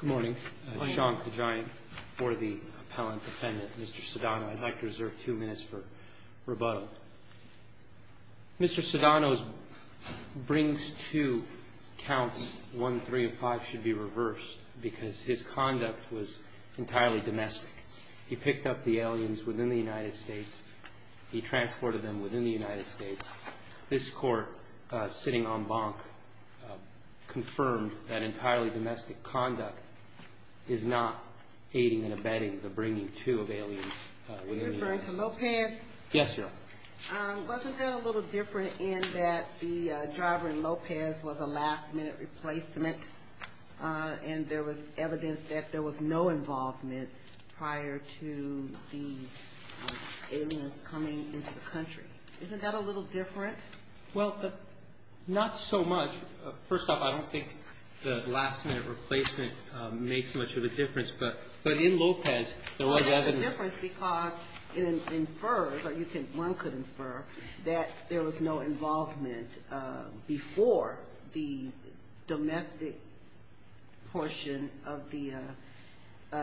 Good morning. Sean Kajian for the Appellant Defendant. Mr. Cedano, I'd like to reserve two minutes for rebuttal. Mr. Cedano's brings to counts 1, 3, and 5 should be reversed because his conduct was entirely domestic. He picked up the aliens within the United States. He transported them within the United States. This Court, sitting en banc, confirmed that entirely domestic conduct is not aiding and abetting the bringing to of aliens within the United States. Are you referring to Lopez? Yes, Your Honor. Wasn't that a little different in that the driver in Lopez was a last minute replacement and there was evidence that there was no involvement prior to the aliens coming into the country? Isn't that a little different? Well, not so much. First off, I don't think the last minute replacement makes much of a difference. But in Lopez, there was evidence. Well, it makes a difference because it infers, or one could infer, that there was no involvement before the domestic portion of the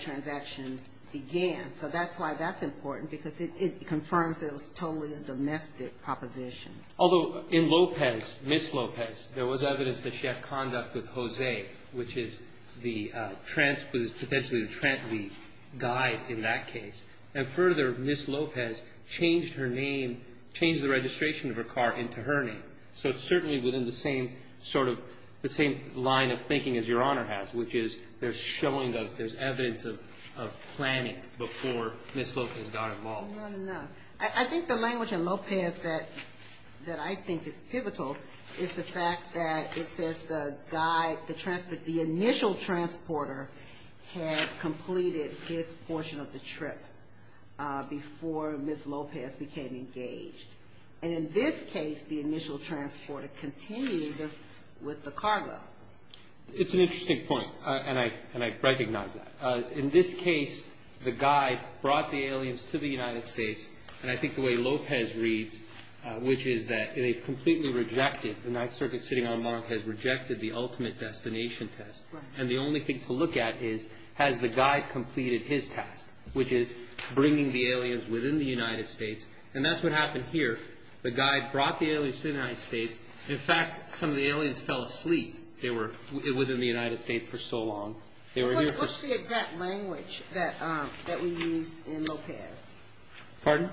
transaction began. So that's why that's important, because it confirms that it was totally a domestic proposition. Although in Lopez, Ms. Lopez, there was evidence that she had conduct with Jose, which is the potentially the Trent we guide in that case. And further, Ms. Lopez changed her name, changed the registration of her car into her name. So it's certainly within the same sort of, the same line of thinking as Your Honor has, which is there's evidence of planning before Ms. Lopez got involved. I think the language in Lopez that I think is pivotal is the fact that it says the initial transporter had completed his portion of the trip before Ms. Lopez became engaged. And in this case, the initial transporter continued with the cargo. It's an interesting point, and I recognize that. In this case, the guide brought the aliens to the United States. And I think the way Lopez reads, which is that they've completely rejected, the Ninth Circuit sitting on the mark has rejected the ultimate destination test. And the only thing to look at is has the guide completed his task, which is bringing the aliens within the United States. And that's what happened here. The guide brought the aliens to the United States. In fact, some of the aliens fell asleep within the United States for so long. What's the exact language that we used in Lopez? Pardon?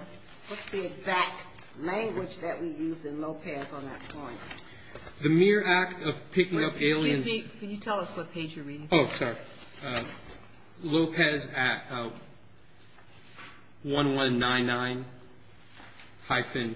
What's the exact language that we used in Lopez on that point? The mere act of picking up aliens. Excuse me, can you tell us what page you're reading from? Oh, sorry. Lopez at 1199-1100.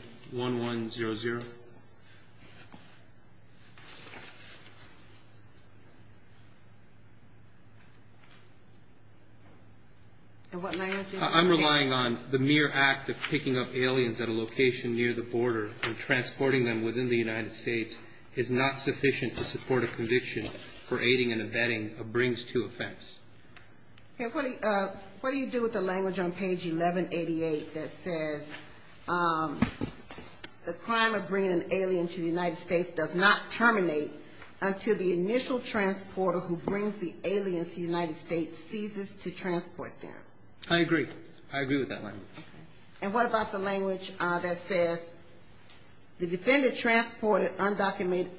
I'm relying on the mere act of picking up aliens at a location near the border and transporting them within the United States is not sufficient to support a conviction for aiding and abetting a brings to offense. What do you do with the language on page 1188 that says, the crime of bringing an alien to the United States does not terminate until the initial transporter who brings the aliens to the United States ceases to transport them? I agree. I agree with that language. And what about the language that says, the defendant transported undocumented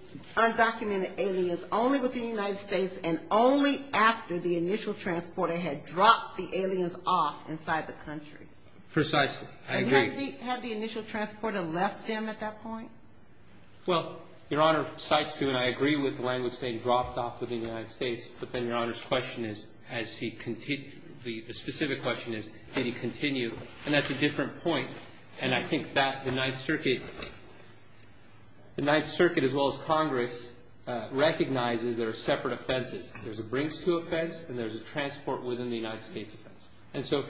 aliens only within the United States and only after the initial transporter had dropped the aliens off inside the country? Precisely. I agree. And had the initial transporter left them at that point? Well, Your Honor, Cites do, and I agree with the language saying dropped off within the United States, but then Your Honor's question is, the specific question is, did he continue? And that's a different point. And I think that the Ninth Circuit, the Ninth Circuit as well as Congress, recognizes there are separate offenses. There's a brings to offense and there's a transport within the United States offense. And so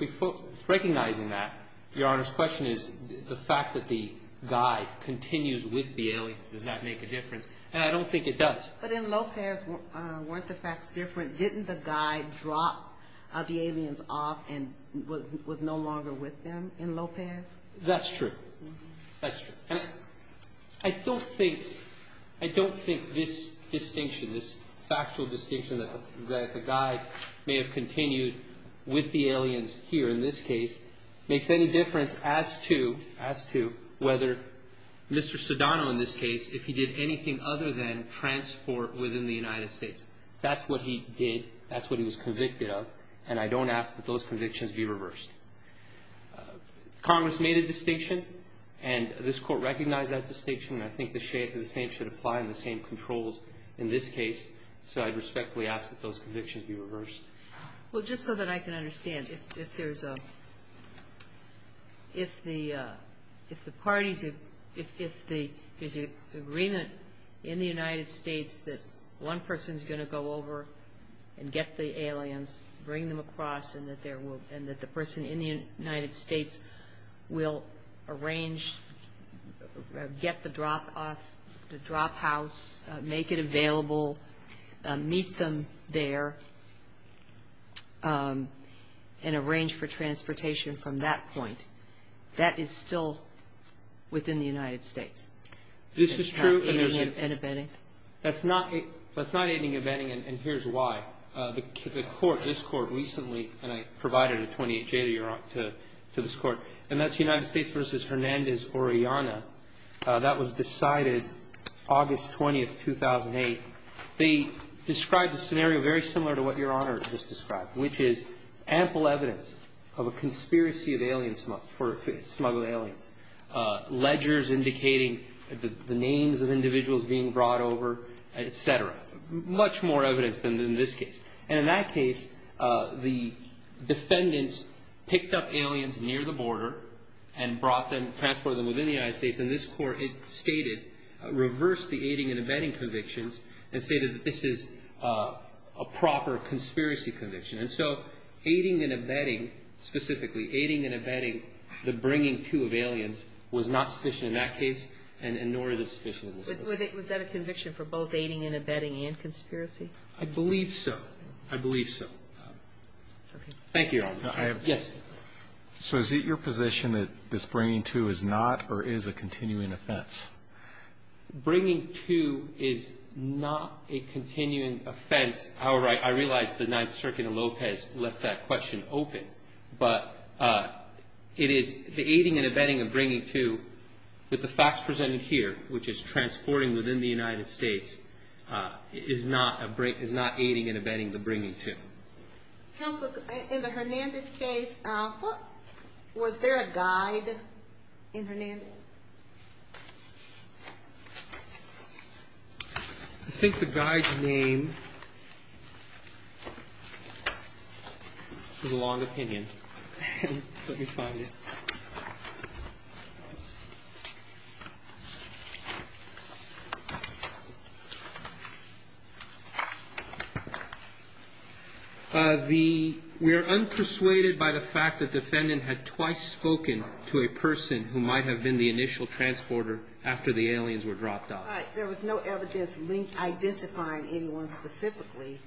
recognizing that, Your Honor's question is, the fact that the guy continues with the aliens, does that make a difference? And I don't think it does. But in Lopez, weren't the facts different? Didn't the guy drop the aliens off and was no longer with them in Lopez? That's true. That's true. And I don't think, I don't think this distinction, this factual distinction that the guy may have continued with the aliens here in this case, makes any difference as to, as to whether Mr. Sedano in this case, if he did anything other than transport within the United States. That's what he did. That's what he was convicted of. And I don't ask that those convictions be reversed. Congress made a distinction. And this Court recognized that distinction. And I think the same should apply in the same controls in this case. So I respectfully ask that those convictions be reversed. Well, just so that I can understand, if there's a, if the parties, if there's an agreement in the United States that one person is going to go over and get the aliens, bring them across, and that there will, and that the person in the United States will arrange, get the drop off, the drop house, make it available, meet them there, and arrange for transportation from that point. That is still within the United States? This is true, and there's not. Aiding and abetting? That's not aiding and abetting, and here's why. The Court, this Court recently, and I provided a 28-J to this Court, and that's United States v. Hernandez-Oriana. That was decided August 20th, 2008. They described a scenario very similar to what Your Honor just described, which is ample evidence of a conspiracy of aliens, for smuggled aliens. Ledgers indicating the names of individuals being brought over, et cetera. Much more evidence than in this case. And in that case, the defendants picked up aliens near the border and brought them, transported them within the United States, and this Court, it stated, reversed the aiding and abetting convictions and stated that this is a proper conspiracy conviction. And so aiding and abetting, specifically aiding and abetting the bringing to of aliens was not sufficient in that case, and nor is it sufficient in this case. Was that a conviction for both aiding and abetting and conspiracy? I believe so. I believe so. Thank you, Your Honor. Yes. So is it your position that this bringing to is not or is a continuing offense? Bringing to is not a continuing offense. I realize the Ninth Circuit in Lopez left that question open, but it is the aiding and abetting of bringing to with the facts presented here, which is transporting within the United States, is not aiding and abetting the bringing to. Counsel, in the Hernandez case, was there a guide in Hernandez? I think the guide's name is a long opinion. Let me find it. We are unpersuaded by the fact that the defendant had twice spoken to a person who might have been the initial transporter after the aliens were dropped off. But there was no evidence identifying anyone specifically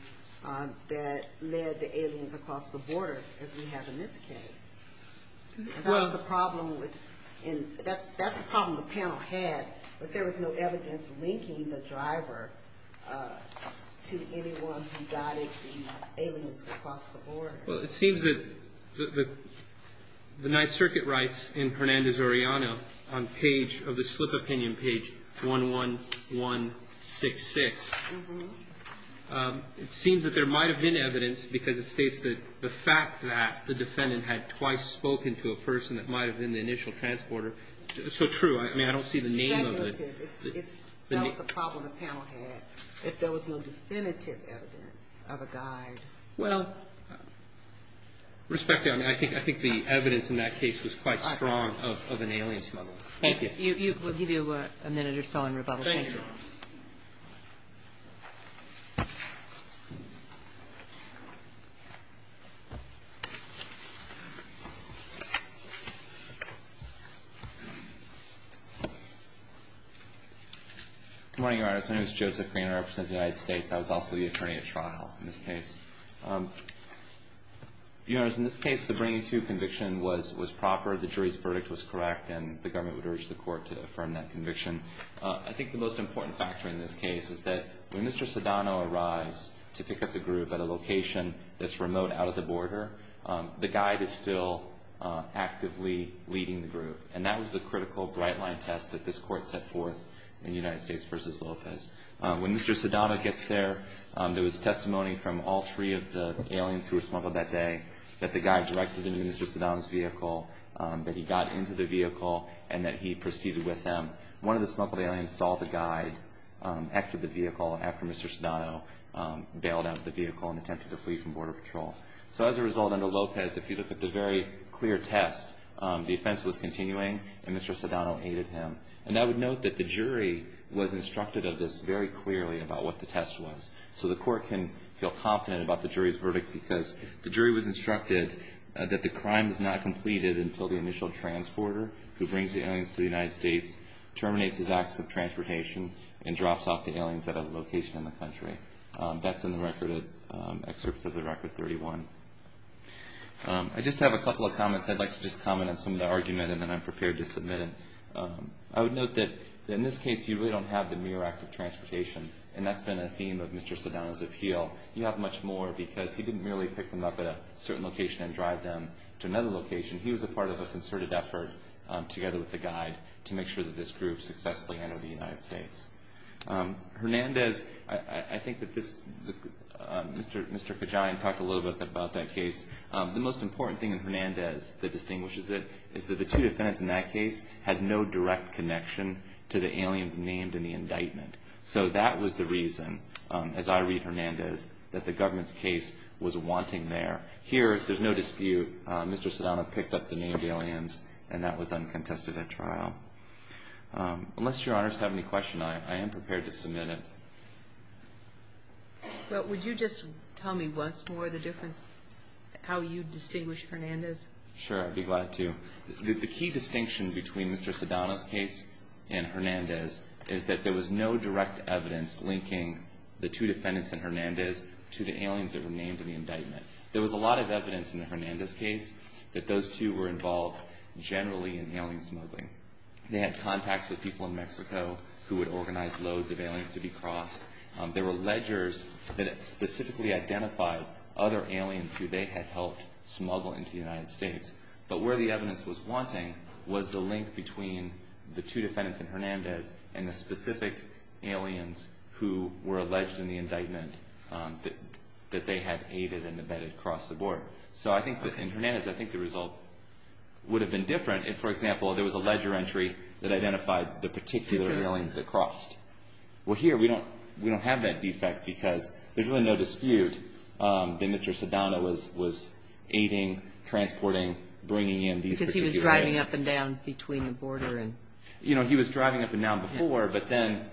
that led the aliens across the border, as we have in this case. That's the problem in this case. That's the problem the panel had, that there was no evidence linking the driver to anyone who guided the aliens across the border. Well, it seems that the Ninth Circuit writes in Hernandez-Oriano on page of the slip opinion, page 11166, it seems that there might have been evidence, because it states that the fact that the defendant had twice spoken to a person that might have been the initial transporter is so true. I mean, I don't see the name of it. That was the problem the panel had, if there was no definitive evidence of a guide. Well, respectfully, I mean, I think the evidence in that case was quite strong of an alien smuggler. Thank you. We'll give you a minute or so in rebuttal. Thank you. Thank you. Good morning, Your Honors. My name is Joseph Green. I represent the United States. I was also the attorney at trial in this case. Your Honors, in this case, the bringing to conviction was proper. The jury's verdict was correct, and the government would urge the court to affirm that conviction. I think the most important factor in this case is that when Mr. Sedano arrives to pick up the group at a location that's remote out of the border, the guide is still actively leading the group. And that was the critical bright-line test that this court set forth in United States v. Lopez. When Mr. Sedano gets there, there was testimony from all three of the aliens who were smuggled that day that the guide directed into Mr. Sedano's vehicle, that he got into the vehicle, and that he proceeded with them. But one of the smuggled aliens saw the guide exit the vehicle after Mr. Sedano bailed out of the vehicle and attempted to flee from Border Patrol. So as a result, under Lopez, if you look at the very clear test, the offense was continuing, and Mr. Sedano aided him. And I would note that the jury was instructed of this very clearly about what the test was. So the court can feel confident about the jury's verdict because the jury was instructed that the crime is not completed until the initial transporter, who brings the aliens to the United States, terminates his acts of transportation and drops off the aliens at a location in the country. That's in the excerpts of the Record 31. I just have a couple of comments. I'd like to just comment on some of the argument, and then I'm prepared to submit it. I would note that in this case, you really don't have the mere act of transportation, and that's been a theme of Mr. Sedano's appeal. You have much more because he didn't merely pick them up at a certain location and drive them to another location. He was a part of a concerted effort, together with the guide, to make sure that this group successfully entered the United States. Hernandez, I think that this, Mr. Kejain talked a little bit about that case. The most important thing in Hernandez that distinguishes it is that the two defendants in that case had no direct connection to the aliens named in the indictment. So that was the reason, as I read Hernandez, that the government's case was wanting there. Here, there's no dispute. Mr. Sedano picked up the named aliens, and that was uncontested at trial. Unless Your Honors have any questions, I am prepared to submit it. But would you just tell me once more the difference, how you distinguish Hernandez? Sure. I'd be glad to. The key distinction between Mr. Sedano's case and Hernandez is that there was no direct evidence linking the two defendants in Hernandez to the aliens that were named in the indictment. There was a lot of evidence in the Hernandez case that those two were involved generally in alien smuggling. They had contacts with people in Mexico who would organize loads of aliens to be crossed. There were ledgers that specifically identified other aliens who they had helped smuggle into the United States. But where the evidence was wanting was the link between the two defendants in Hernandez and the specific aliens who were alleged in the indictment that they had aided and abetted across the board. In Hernandez, I think the result would have been different if, for example, there was a ledger entry that identified the particular aliens that crossed. Well, here we don't have that defect because there's really no dispute that Mr. Sedano was aiding, transporting, bringing in these particular aliens. Because he was driving up and down between the border. He was driving up and down before, but then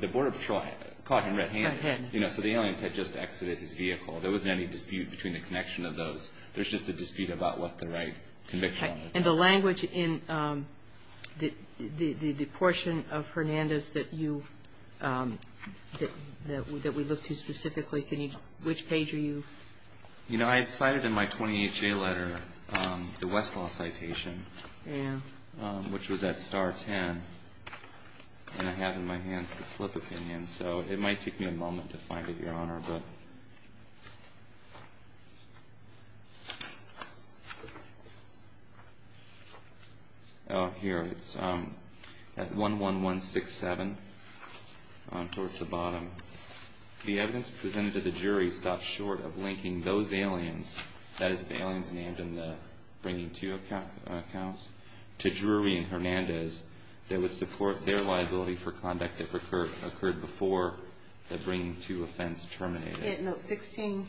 the border patrol caught him red-handed. So the aliens had just exited his vehicle. There wasn't any dispute between the connection of those. There's just a dispute about what the right conviction was. And the language in the portion of Hernandez that we looked at specifically, which page are you? You know, I had cited in my 20HA letter the Westlaw citation, which was at star 10. And I have in my hands the slip opinion. So it might take me a moment to find it, Your Honor. Here, it's at 11167, towards the bottom. The evidence presented to the jury stops short of linking those aliens, that is, the aliens named in the bringing-to accounts, to Drury and Hernandez, that would support their liability for conduct that occurred before the bringing-to offense terminated. Had note 16?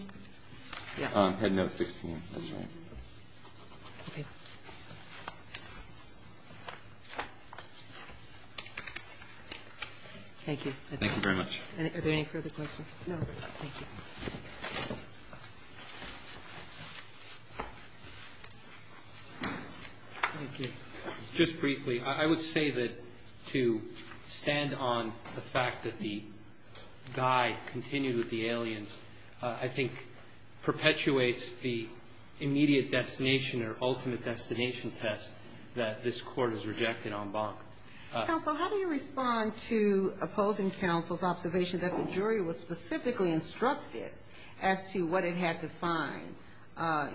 Yeah. Had note 16. That's right. Okay. Thank you. Thank you very much. Are there any further questions? No. Thank you. Thank you. Just briefly, I would say that to stand on the fact that the guy continued with the aliens, I think perpetuates the immediate destination or ultimate destination test that this court has rejected en banc. Counsel, how do you respond to opposing counsel's observation that the jury was specifically instructed as to what it had to find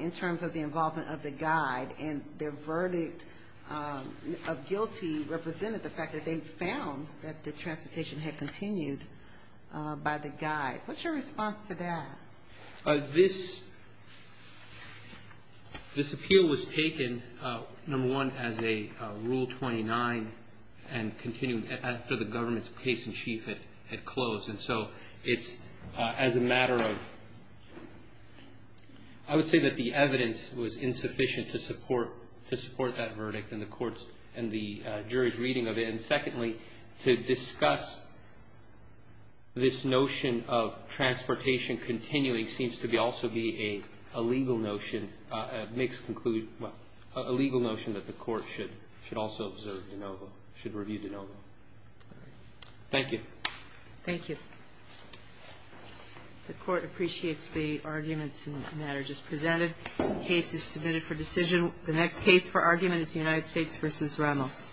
in terms of the involvement of the guide, and their verdict of guilty represented the fact that they found that the transportation had continued by the guide? What's your response to that? This appeal was taken, number one, as a Rule 29 and continued after the government's case in chief had closed. And so it's as a matter of, I would say that the evidence was insufficient to support that verdict and the jury's reading of it, and secondly, to discuss this notion of transportation continuing seems to also be a legal notion, makes conclude, a legal notion that the court should also observe de novo, should review de novo. Thank you. Thank you. The court appreciates the arguments in the matter just presented. The case is submitted for decision. The next case for argument is the United States v. Reynolds.